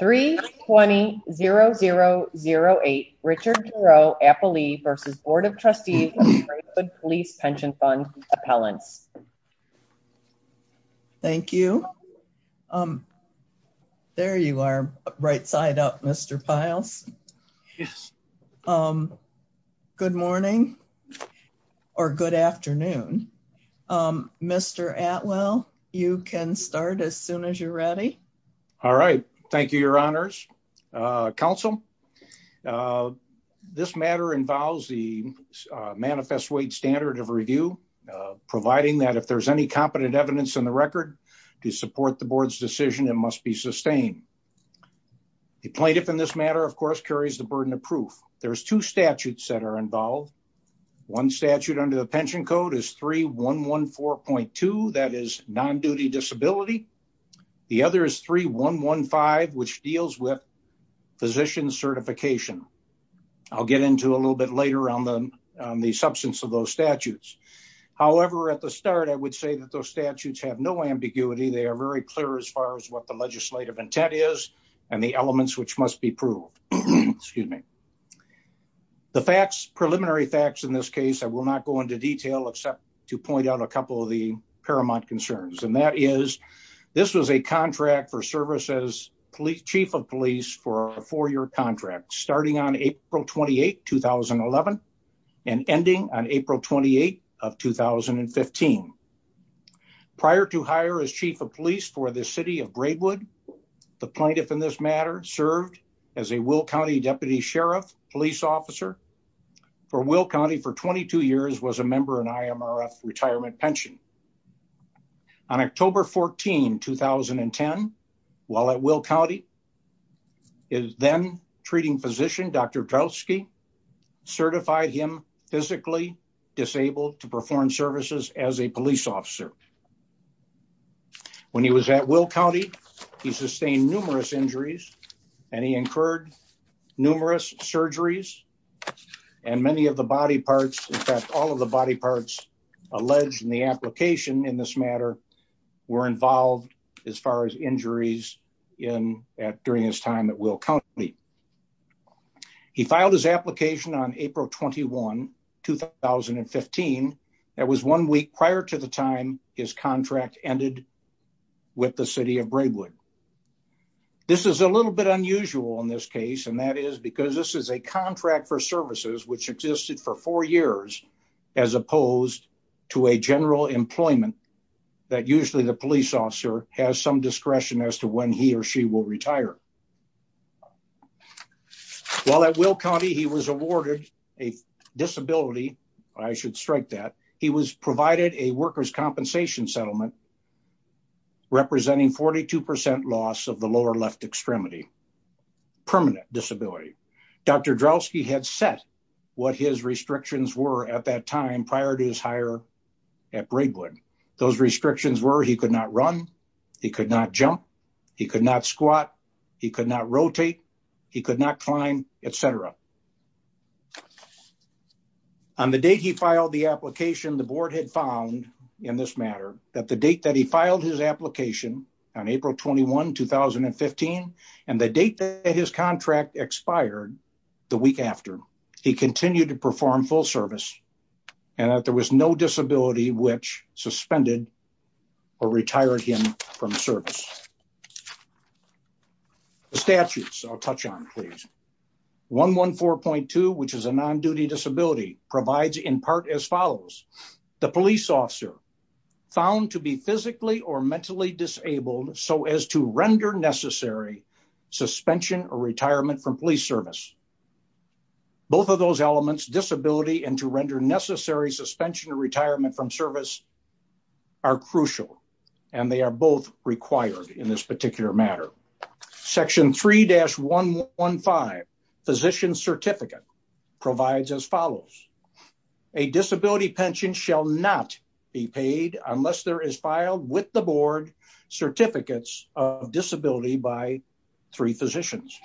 320-0008 Richard Giroux-Appelee v. Board of Trustees of the Braidwood Police Pension Fund Appellants Thank you. There you are, right side up Mr. Piles. Good morning, or good afternoon. Mr. Atwell, you can start as soon as you're ready. Thank you, your honors. Council, this matter involves the manifest weight standard of review, providing that if there's any competent evidence in the record to support the board's decision, it must be sustained. The plaintiff in this matter, of course, carries the burden of proof. There's two statutes that are involved. One statute under the pension code is 3114.2, that is non-duty disability. The other is 3115, which deals with physician certification. I'll get into a little bit later on the substance of those statutes. However, at the start, I would say that those statutes have no ambiguity. They are very clear as far as what the legislative intent is and the elements which must be proved. The facts, preliminary facts in this case, I will not go into detail except to point out a couple of the paramount concerns. And that is, this was a contract for service as chief of police for a four-year contract, starting on April 28, 2011, and ending on April 28 of 2015. Prior to hire as chief of police for the city of Braidwood, the plaintiff in this matter served as a Will County deputy sheriff police officer for Will County for 22 years, was a member of an IMRF retirement pension. On October 14, 2010, while at Will County, his then-treating physician, Dr. Drelski, certified him physically disabled to perform services as a police officer. When he was at Will County, he sustained numerous injuries, and he incurred numerous surgeries, and many of the body parts, in fact, all of the body parts alleged in the application in this matter were involved as far as injuries during his time at Will County. He filed his application on April 21, 2015. That was one week prior to the time his contract ended with the city of Braidwood. This is a little bit unusual in this case, and that is because this is a contract for services which existed for four years, as opposed to a general employment that usually the police officer has some discretion as to when he or she will retire. While at Will County, he was awarded a disability, I should strike that, he was provided a workers' compensation settlement representing 42% loss of the lower left extremity, permanent disability. Dr. Drelski had set what his restrictions were at that time prior to his hire at Braidwood. Those restrictions were he could not run, he could not jump, he could not squat, he could not rotate, he could not climb, etc. On the date he filed the application, the board had found in this matter that the date that he filed his application on April 21, 2015, and the date that his contract expired the week after, he continued to perform full service, and that there was no disability which suspended or retired him from service. The statutes, I'll touch on, please. 114.2, which is a non-duty disability, provides in part as follows, the police officer found to be physically or mentally disabled so as to render necessary suspension or retirement from police service. Both of those elements, disability and to render necessary suspension or retirement from service, are crucial, and they are both required in this particular matter. Section 3-115, physician certificate, provides as follows, a disability pension shall not be paid unless there is filed with the board certificates of disability by three physicians.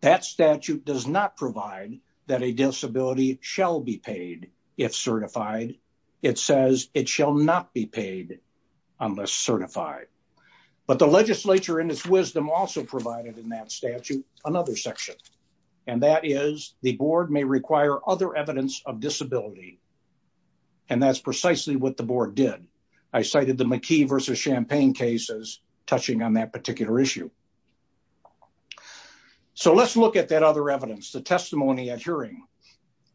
That statute does not provide that a disability shall be paid if certified. It says it shall not be paid unless certified. But the legislature in its wisdom also provided in that statute another section, and that is the board may require other evidence of disability. And that's precisely what the board did. I cited the McKee versus Champaign cases touching on that particular issue. So let's look at that other evidence, the testimony at hearing.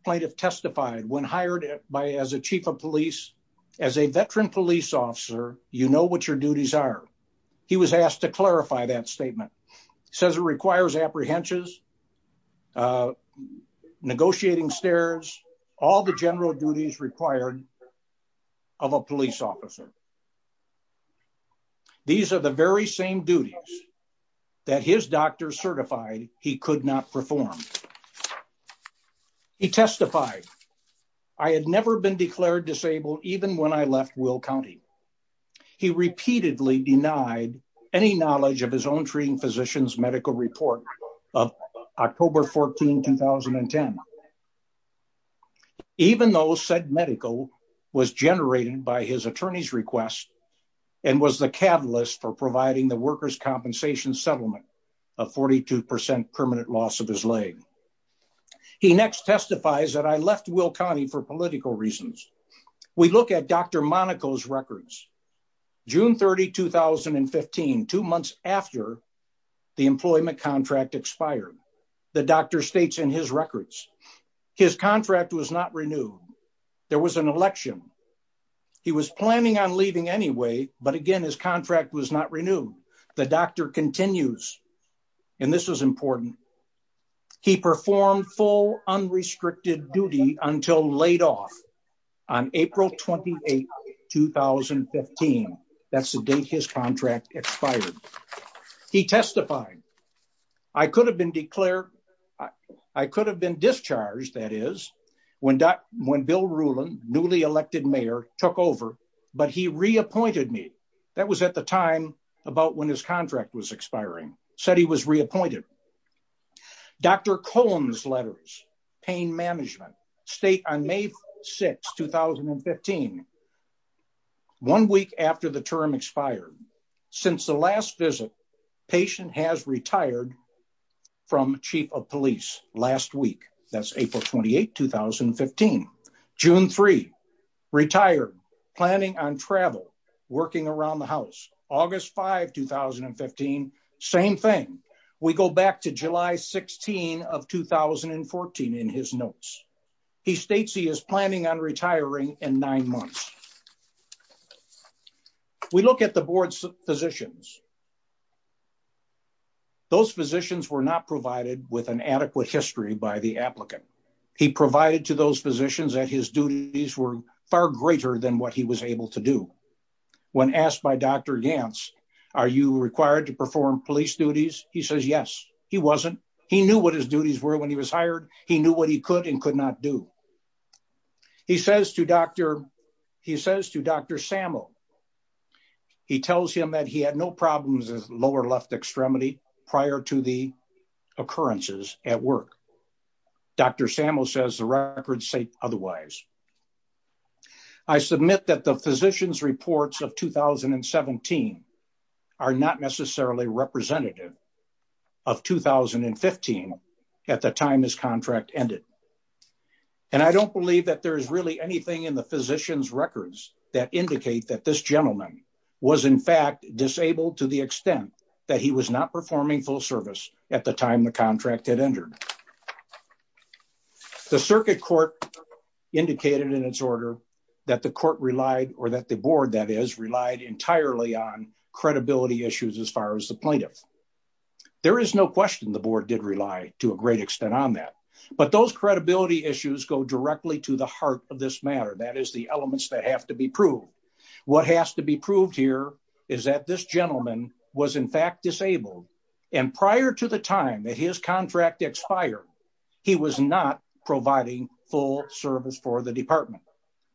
Plaintiff testified, when hired as a chief of police, as a veteran police officer, you know what your duties are. He was asked to clarify that statement. He says it requires apprehensions, negotiating stares, all the general duties required of a police officer. These are the very same duties that his doctor certified he could not perform. He testified, I had never been declared disabled even when I left Will County. He repeatedly denied any knowledge of his own treating physician's medical report of October 14, 2010. Even though said medical was generated by his attorney's request and was the catalyst for providing the workers' compensation settlement of 42% permanent loss of his leg. He next testifies that I left Will County for political reasons. We look at Dr. Monaco's records, June 30, 2015, two months after the employment contract expired. The doctor states in his records, his contract was not renewed. There was an election. He was planning on leaving anyway, but again, his contract was not renewed. The doctor continues, and this is important. He performed full unrestricted duty until laid off on April 28, 2015. That's the date his contract expired. He testified, I could have been declared, I could have been discharged, that is, when Bill Rulon, newly elected mayor, took over, but he reappointed me. That was at the time about when his contract was expiring. Said he was reappointed. Dr. Cullen's letters, pain management, state on May 6, 2015, one week after the term expired. Since the last visit, patient has retired from chief of police last week. That's April 28, 2015. June 3, retired, planning on travel, working around the house. August 5, 2015, same thing. We go back to July 16 of 2014 in his notes. He states he is planning on retiring in nine months. We look at the board's physicians. Those physicians were not provided with an adequate history by the applicant. He provided to those physicians that his duties were far greater than what he was able to do. When asked by Dr. Gantz, are you required to perform police duties? He says, yes, he wasn't. He knew what his duties were when he was hired. He knew what he could and could not do. He says to Dr. Samo, he tells him that he had no problems with lower left extremity prior to the occurrences at work. Dr. Samo says the records say otherwise. I submit that the physician's reports of 2017 are not necessarily representative of 2015 at the time his contract ended. And I don't believe that there's really anything in the physician's records that indicate that this gentleman was in fact disabled to the extent that he was not performing full service at the time the contract had entered. The circuit court indicated in its order that the court relied or that the board that is relied entirely on credibility issues as far as the plaintiff. There is no question the board did rely to a great extent on that. But those credibility issues go directly to the heart of this matter. That is the elements that have to be proved. What has to be proved here is that this gentleman was in fact disabled. And prior to the time that his contract expired, he was not providing full service for the department.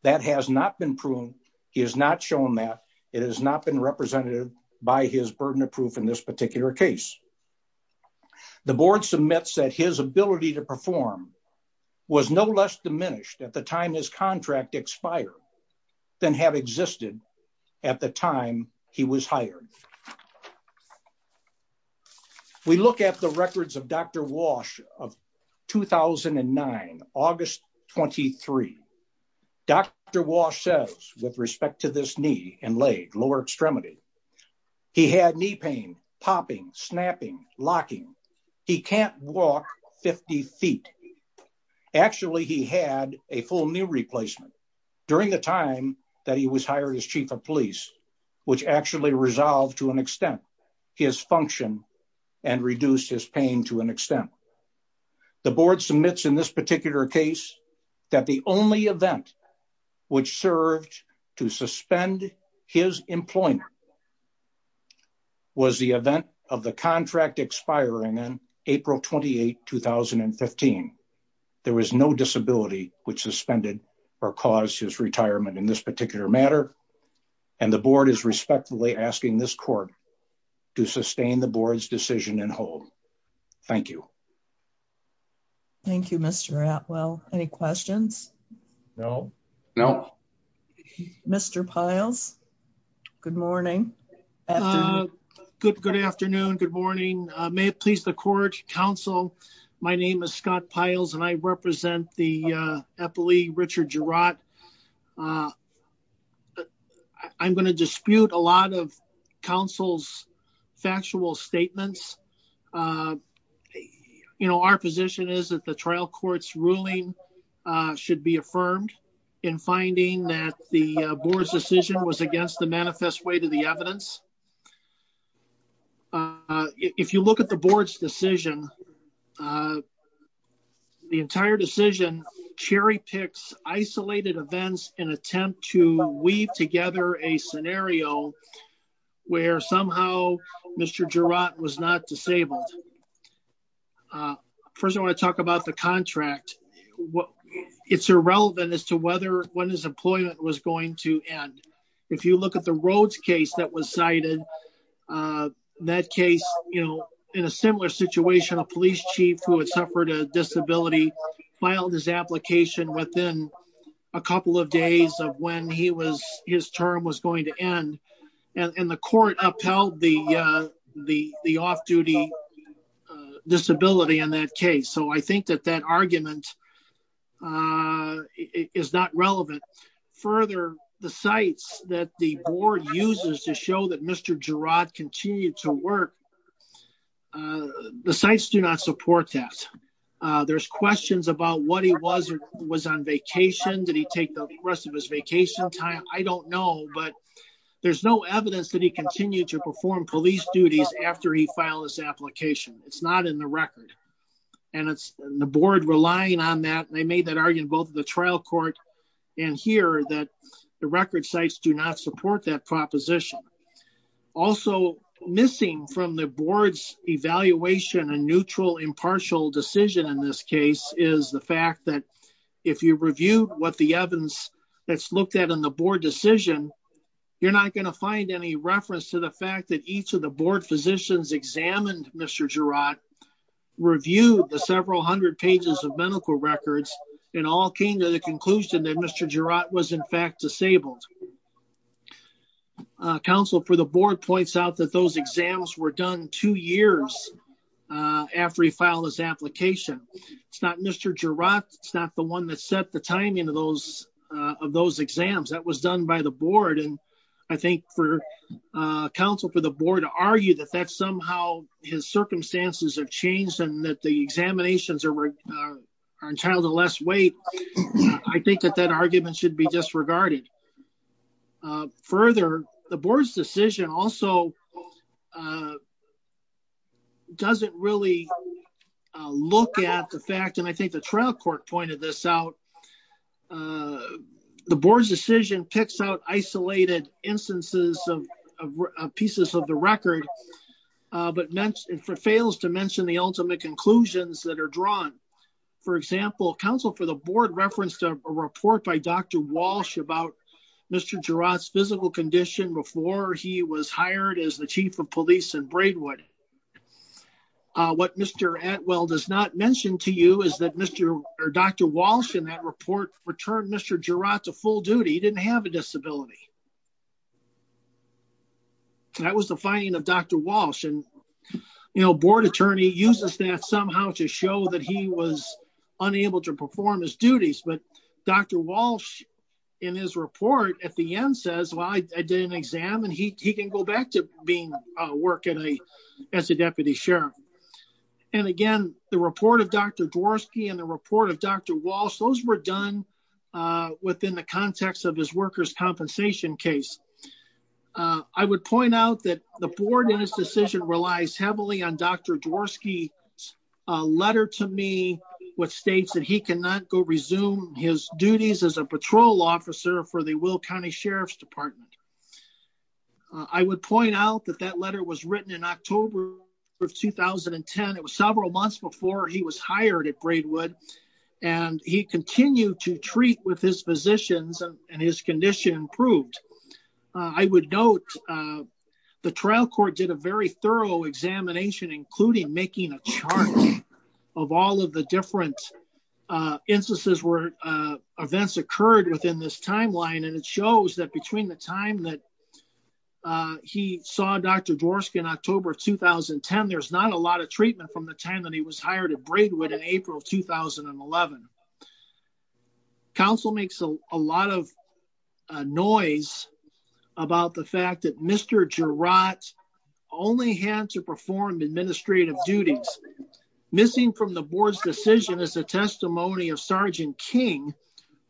That has not been proven. He has not shown that. It has not been represented by his burden of proof in this particular case. The board submits that his ability to perform was no less diminished at the time his contract expired than have existed at the time he was hired. We look at the records of Dr. Walsh of 2009, August 23. Dr. Walsh says with respect to this knee and leg, lower extremity, he had knee pain, popping, snapping, locking. He can't walk 50 feet. Actually, he had a full knee replacement during the time that he was hired as chief of police, which actually resolved to an extent his function and reduced his pain to an extent. The board submits in this particular case that the only event which served to suspend his employment was the event of the contract expiring on April 28, 2015. There was no disability which suspended or caused his retirement in this particular matter. And the board is respectfully asking this court to sustain the board's decision and hold. Thank you. Thank you, Mr. Atwell. Any questions? No. No. Mr. Piles. Good morning. Good. Good afternoon. Good morning. May it please the court. Counsel. My name is Scott piles and I represent the Eppley Richard Girard. I'm going to dispute a lot of counsel's factual statements. You know, our position is that the trial court's ruling should be affirmed in finding that the board's decision was against the manifest way to the evidence. Uh, if you look at the board's decision, uh, the entire decision cherry picks isolated events in attempt to weave together a scenario where somehow Mr. Girard was not disabled. First, I want to talk about the contract. It's irrelevant as to whether when his employment was going to end. If you look at the roads case that was cited, uh, that case, you know, in a similar situation, a police chief who had suffered a disability filed his application within a couple of days of when he was, his term was going to end. And the court upheld the, uh, the, the off duty, uh, disability on that case. So I think that that argument, uh, is not relevant further. The sites that the board uses to show that Mr. Girard continued to work. Uh, the sites do not support that. Uh, there's questions about what he was or was on vacation. Did he take the rest of his vacation time? I don't know, but there's no evidence that he continued to perform police duties after he filed his application. It's not in the record and it's the board relying on that. They made that argument, both the trial court and here that the record sites do not support that proposition. Also missing from the board's evaluation and neutral impartial decision in this case is the fact that if you review what the evidence that's looked at on the board decision, you're not going to find any reference to the fact that each of the board physicians examined. Mr. Girard reviewed the several hundred pages of medical records and all came to the conclusion that Mr. Girard was in fact disabled. Uh, counsel for the board points out that those exams were done two years, uh, after he filed his application. It's not Mr. Girard. It's not the one that set the timing of those, uh, of those exams that was done by the board. And I think for, uh, counsel for the board to argue that that's somehow his circumstances have changed and that the examinations are, are entitled to less weight. I think that that argument should be disregarded. Further, the board's decision also, uh, doesn't really look at the fact. And I think the trial court pointed this out. Uh, the board's decision picks out isolated instances of pieces of the record. Uh, but mentioned for fails to mention the ultimate conclusions that are drawn. For example, counsel for the board referenced a report by Dr. Walsh about Mr. Girard's physical condition before he was hired as the chief of police and Braidwood. Uh, what Mr. Atwell does not mention to you is that Mr or Dr. Walsh in that report returned Mr. Girard to full duty. He didn't have a disability. That was the finding of Dr. Walsh and, you know, board attorney uses that somehow to show that he was unable to perform his duties. But Dr. Walsh in his report at the end says, well, I did an exam and he, he can go back to being a work at a, as a deputy sheriff. And again, the report of Dr. Dworsky and the report of Dr. Walsh, those were done, uh, within the context of his worker's compensation case. Uh, I would point out that the board and his decision relies heavily on Dr. Dworsky, a letter to me, what states that he cannot go resume his duties as a patrol officer for the Will County Sheriff's department. I would point out that that letter was written in October of 2010. It was several months before he was hired at Braidwood and he continued to treat with his physicians and his condition improved. Uh, I would note, uh, the trial court did a very thorough examination, including making a chart of all of the different, uh, instances where, uh, events occurred within this timeline. And it shows that between the time that, uh, he saw Dr. Dworsky in October of 2010, there's not a lot of treatment from the time that he was hired at Braidwood in April, 2011. Council makes a lot of noise about the fact that Mr. Girat only had to perform administrative duties. Missing from the board's decision is a testimony of Sergeant King,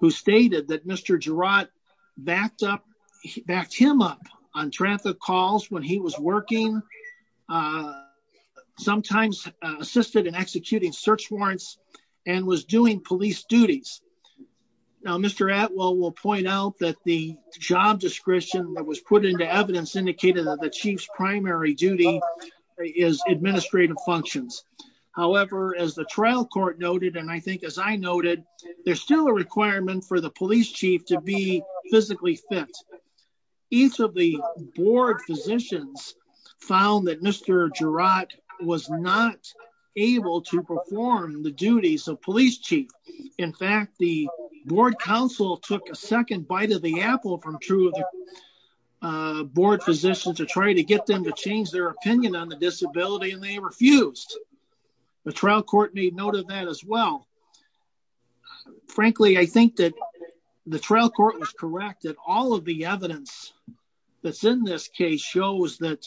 who stated that Mr. Girat backed up, backed him up on traffic calls when he was working, uh, sometimes, uh, assisted in executing search warrants. And was doing police duties. Now, Mr. Atwell will point out that the job description that was put into evidence indicated that the chief's primary duty is administrative functions. However, as the trial court noted, and I think, as I noted, there's still a requirement for the police chief to be physically fit. Each of the board physicians found that Mr. Girat was not able to perform the duties of police chief. In fact, the board council took a second bite of the apple from two of the, uh, board physicians to try to get them to change their opinion on the disability. And they refused. The trial court made note of that as well. Frankly, I think that the trial court was corrected. All of the evidence that's in this case shows that,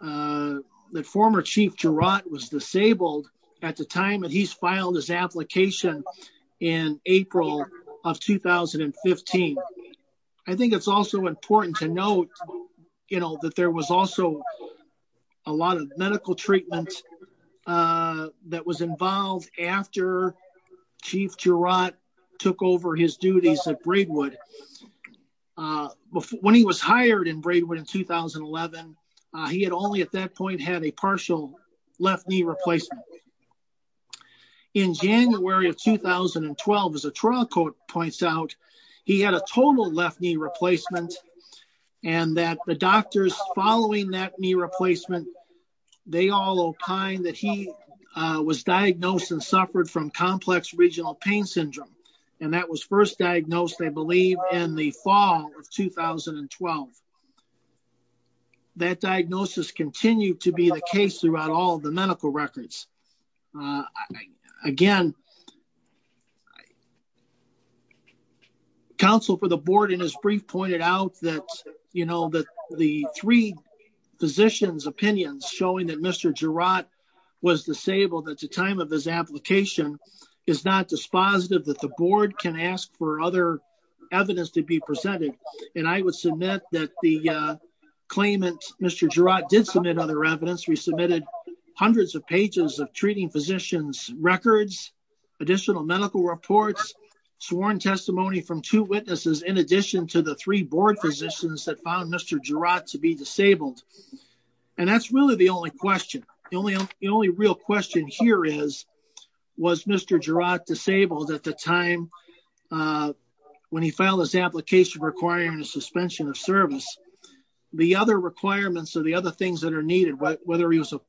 uh, that former chief Girat was disabled at the time that he's filed his application in April of 2015. I think it's also important to note, you know, that there was also a lot of medical treatment, uh, that was involved after chief Girat took over his duties at Braidwood. Uh, when he was hired in Braidwood in 2011, uh, he had only at that point had a partial left knee replacement. In January of 2012, as a trial court points out, he had a total left knee replacement and that the doctors following that knee replacement, they all opined that he, uh, was diagnosed and suffered from complex regional pain syndrome. And that was first diagnosed, I believe in the fall of 2012. That diagnosis continued to be the case throughout all the medical records. Uh, again, council for the board in his brief pointed out that, you know, that the three physicians opinions showing that Mr. Girat was disabled at the time of his application is not dispositive that the board can ask for other evidence to be presented. And I would submit that the, uh, claimant, Mr. Girat did submit other evidence. We submitted hundreds of pages of treating physicians, records, additional medical reports, sworn testimony from two witnesses. In addition to the three board physicians that found Mr. Girat to be disabled. And that's really the only question. The only, the only real question here is, was Mr. Girat disabled at the time, uh, when he filed his application requiring a suspension of service, the other requirements or the other things that are needed, whether he was a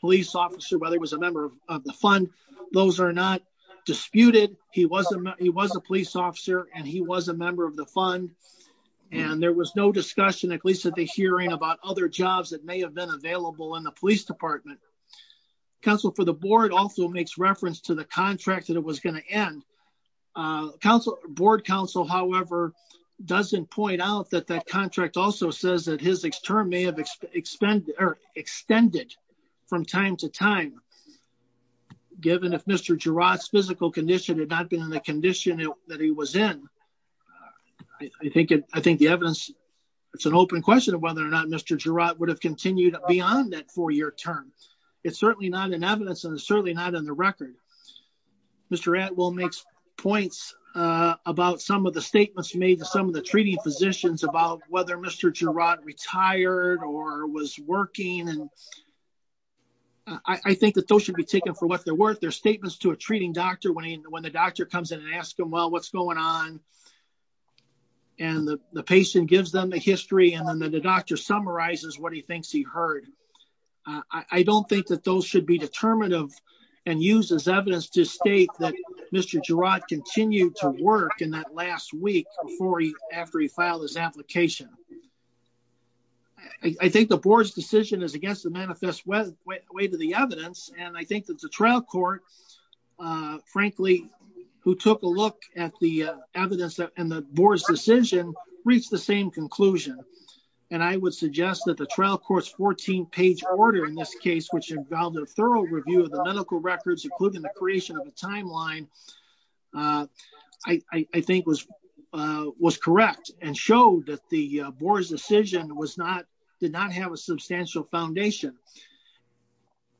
police officer, whether it was a member of the fund, those are not disputed. He wasn't, he was a police officer and he was a member of the fund and there was no discussion, at least at the hearing about other jobs that may have been available in the police department. Council for the board also makes reference to the contract that it was going to end. Uh, council board council, however, doesn't point out that that contract also says that his term may have expanded or extended from time to time. Given if Mr. Girat's physical condition had not been in the condition that he was in. I think it, I think the evidence, it's an open question of whether or not Mr. Girat would have continued beyond that four year term. It's certainly not an evidence and it's certainly not in the record. Mr. At will makes points, uh, about some of the statements made to some of the treating physicians about whether Mr. Girat retired or was working. And I think that those should be taken for what they're worth. Their statements to a treating doctor when he, when the doctor comes in and ask them, well, what's going on. And the patient gives them the history and then the doctor summarizes what he thinks he heard. I don't think that those should be determinative and use as evidence to state that Mr. Girat continued to work in that last week before he, after he filed his application. I think the board's decision is against the manifest way to the evidence. And I think that the trial court, uh, frankly, who took a look at the evidence and the board's decision reached the same conclusion. And I would suggest that the trial court's 14 page order in this case, which involved a thorough review of the medical records, including the creation of a timeline. Uh, I, I think was, uh, was correct and showed that the board's decision was not, did not have a substantial foundation.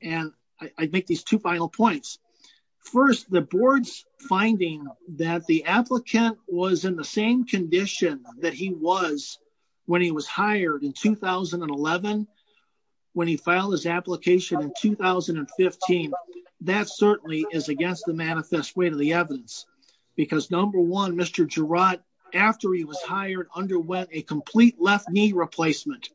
And I make these two final points. First, the board's finding that the applicant was in the same condition that he was when he was hired in 2011. When he filed his application in 2015, that certainly is against the manifest way to the evidence because number one, Mr. Girat, after he was hired under wet, a complete left knee replacement,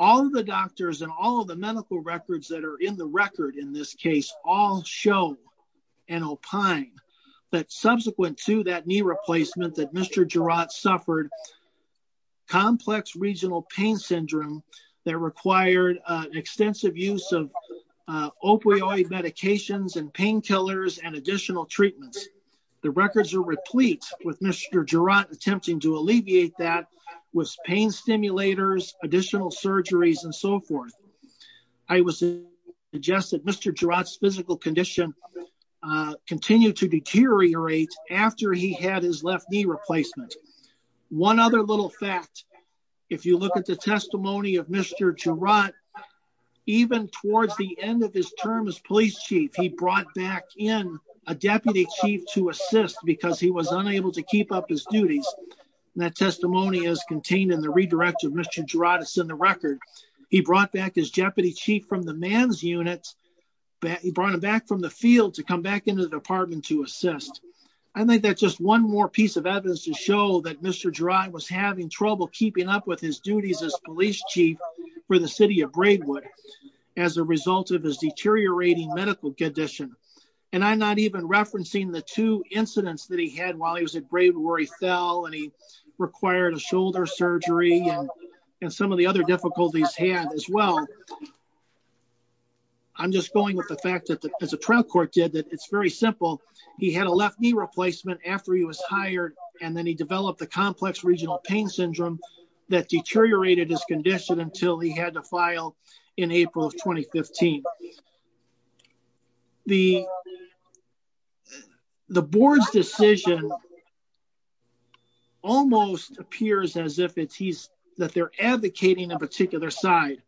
all of the doctors and all of the medical records that are in the record in this case, all show. And opine that subsequent to that knee replacement that Mr. Girat suffered complex regional pain syndrome that required an extensive use of, uh, opioid medications and painkillers and additional treatments. The records are replete with Mr. Girat attempting to alleviate that was pain stimulators, additional surgeries, and so forth. I was just at Mr. Girat's physical condition, uh, continued to deteriorate after he had his left knee replacement. One other little fact, if you look at the testimony of Mr. Girat, even towards the end of his term as police chief, he brought back in a deputy chief to assist because he was unable to keep up his duties. That testimony is contained in the redirect of Mr. Girat is in the record. He brought back his jeopardy chief from the man's units. He brought him back from the field to come back into the department to assist. I think that's just one more piece of evidence to show that Mr. Girat was having trouble keeping up with his duties as police chief for the city of Braidwood as a result of his deteriorating medical condition. And I'm not even referencing the two incidents that he had while he was at Braidwood where he fell and he required a shoulder surgery and some of the other difficulties he had as well. I'm just going with the fact that as a trial court did that, it's very simple. He had a left knee replacement after he was hired, and then he developed the complex regional pain syndrome that deteriorated his condition until he had to file in April of 2015. The, the board's decision. Almost appears as if it's he's that they're advocating a particular side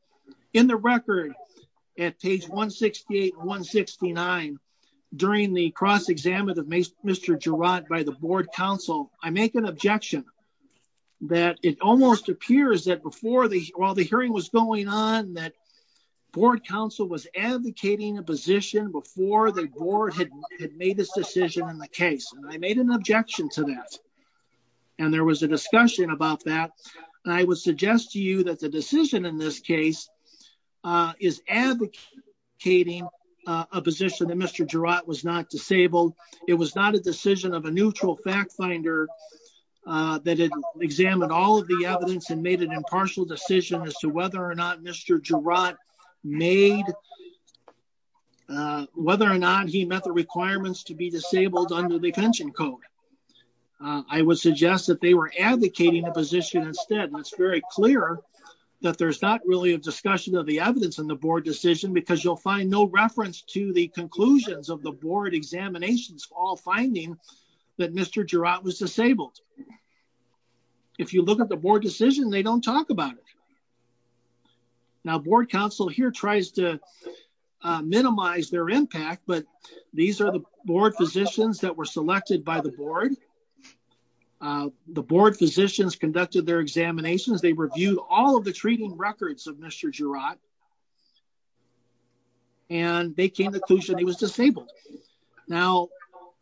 in the record at page 168 169 during the cross exam of Mr. Girat by the board council. I make an objection that it almost appears that before the, while the hearing was going on that board council was advocating a position before the board had made this decision in the case. I made an objection to that. And there was a discussion about that. I would suggest to you that the decision in this case is advocating a position that Mr. Girat was not disabled. It was not a decision of a neutral fact finder that examined all of the evidence and made an impartial decision as to whether or not Mr. Girat made, uh, whether or not he met the requirements to be disabled under the pension code. I would suggest that they were advocating a position instead, and it's very clear that there's not really a discussion of the evidence in the board decision because you'll find no reference to the conclusions of the board examinations all finding that Mr. Girat was disabled. If you look at the board decision, they don't talk about it. Now board council here tries to minimize their impact, but these are the board physicians that were selected by the board. The board physicians conducted their examinations they reviewed all of the treating records of Mr Girat. And they came to the conclusion he was disabled. Now,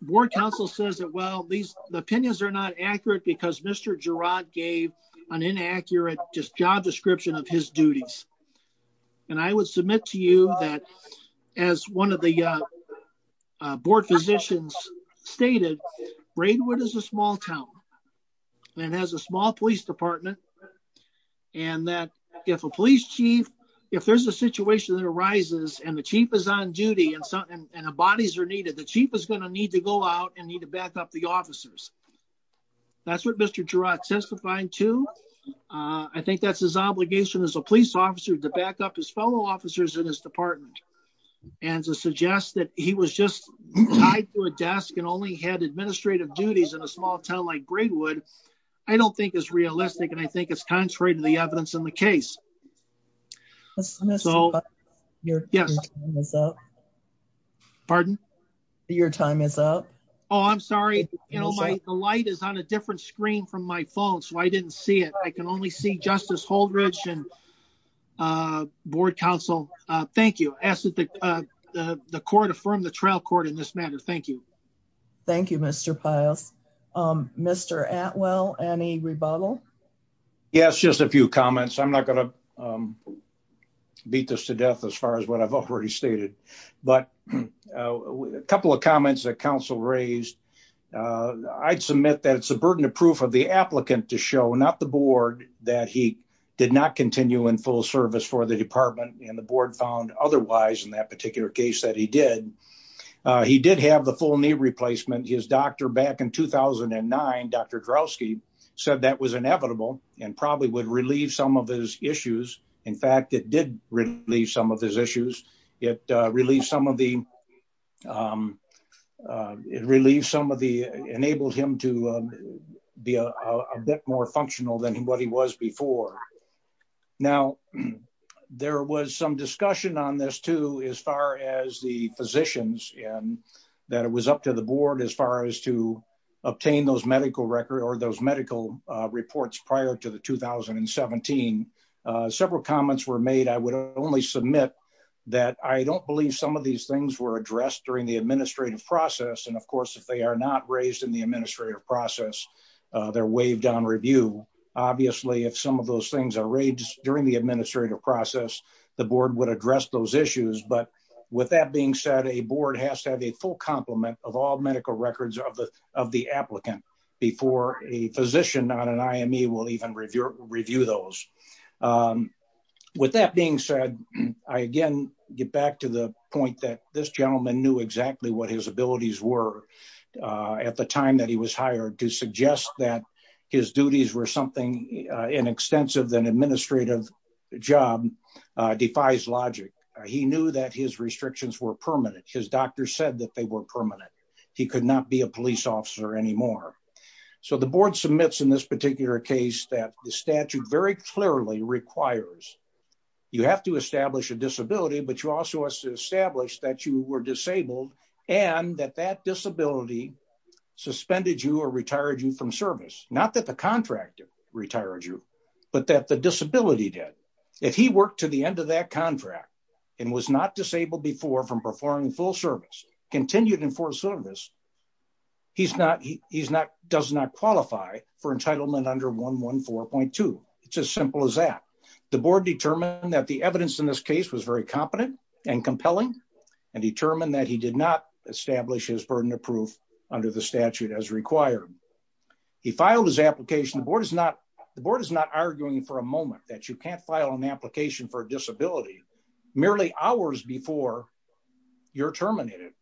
board council says that well these opinions are not accurate because Mr Girat gave an inaccurate just job description of his duties. And I would submit to you that as one of the board physicians stated, Braidwood is a small town and has a small police department. And that if a police chief, if there's a situation that arises and the chief is on duty and bodies are needed the chief is going to need to go out and need to back up the officers. That's what Mr Girat testifying to. I think that's his obligation as a police officer to back up his fellow officers in his department. And to suggest that he was just tied to a desk and only had administrative duties in a small town like Braidwood. I don't think is realistic and I think it's contrary to the evidence in the case. Yes. Pardon. Your time is up. Oh, I'm sorry. The light is on a different screen from my phone so I didn't see it. I can only see Justice Holdridge and board council. Thank you. The court affirmed the trial court in this matter. Thank you. Thank you, Mr. Piles. Mr. Atwell. Any rebuttal. Yes, just a few comments. I'm not going to beat this to death as far as what I've already stated, but a couple of comments that council raised. I'd submit that it's a burden of proof of the applicant to show not the board that he did not continue in full service for the department and the board found otherwise in that particular case that he did. He did have the full knee replacement. His doctor back in 2009, Dr. Drowski said that was inevitable and probably would relieve some of his issues. In fact, it did relieve some of his issues. It relieves some of the. It relieves some of the enabled him to be a bit more functional than what he was before. Now, there was some discussion on this too, as far as the physicians and that it was up to the board as far as to obtain those medical record or those medical reports prior to the 2017 several comments were made. I would only submit that I don't believe some of these things were addressed during the administrative process. And of course, if they are not raised in the administrative process, they're waived on review. Obviously, if some of those things are raised during the administrative process, the board would address those issues. But with that being said, a board has to have a full complement of all medical records of the of the applicant before a physician on an IME will even review review those. With that being said, I again get back to the point that this gentleman knew exactly what his abilities were at the time that he was hired to suggest that his duties were something in extensive than administrative job defies logic. He knew that his restrictions were permanent. His doctor said that they were permanent. He could not be a police officer anymore. So the board submits in this particular case that the statute very clearly requires. You have to establish a disability, but you also have to establish that you were disabled and that that disability suspended you or retired you from service, not that the contractor retired you, but that the disability debt. If he worked to the end of that contract and was not disabled before from performing full service continued in for service. He's not he's not does not qualify for entitlement under 114.2. It's as simple as that. The board determined that the evidence in this case was very competent and compelling and determined that he did not establish his burden of proof under the statute as required. He filed his application. The board is not the board is not arguing for a moment that you can't file an application for disability merely hours before you're terminated.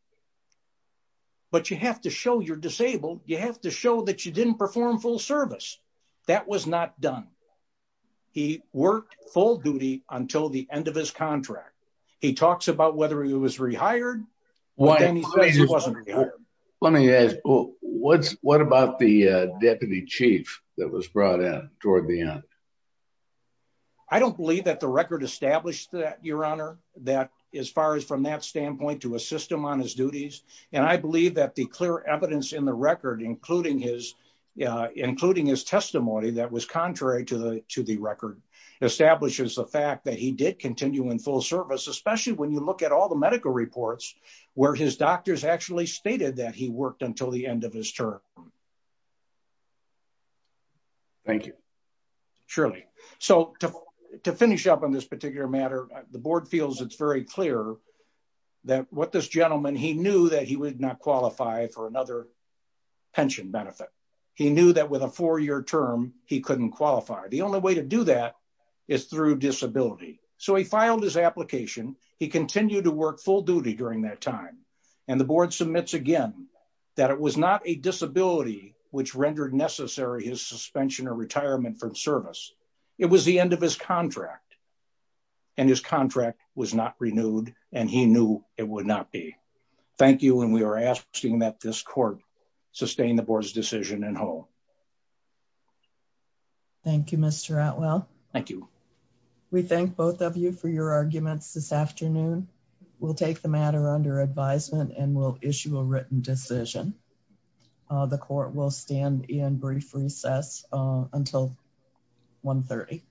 But you have to show you're disabled, you have to show that you didn't perform full service. That was not done. He worked full duty until the end of his contract. He talks about whether he was rehired. Let me ask, what's, what about the deputy chief that was brought in toward the end. I don't believe that the record established that your honor that as far as from that standpoint to assist him on his duties, and I believe that the clear evidence in the record, including his, including his testimony that was contrary to the, to the record establishes the fact that he did continue in full service, especially when you look at all the medical reports. Where his doctors actually stated that he worked until the end of his term. Thank you. Surely, so to finish up on this particular matter, the board feels it's very clear that what this gentleman he knew that he would not qualify for another pension benefit. He knew that with a four year term, he couldn't qualify. The only way to do that is through disability. So he filed his application, he continued to work full duty during that time. And the board submits again that it was not a disability, which rendered necessary his suspension or retirement from service. It was the end of his contract. And his contract was not renewed, and he knew it would not be. Thank you and we are asking that this court sustain the board's decision and whole. Thank you, Mr. Atwell. Thank you. We thank both of you for your arguments this afternoon. We'll take the matter under advisement and we'll issue a written decision. The court will stand in brief recess until 1.30.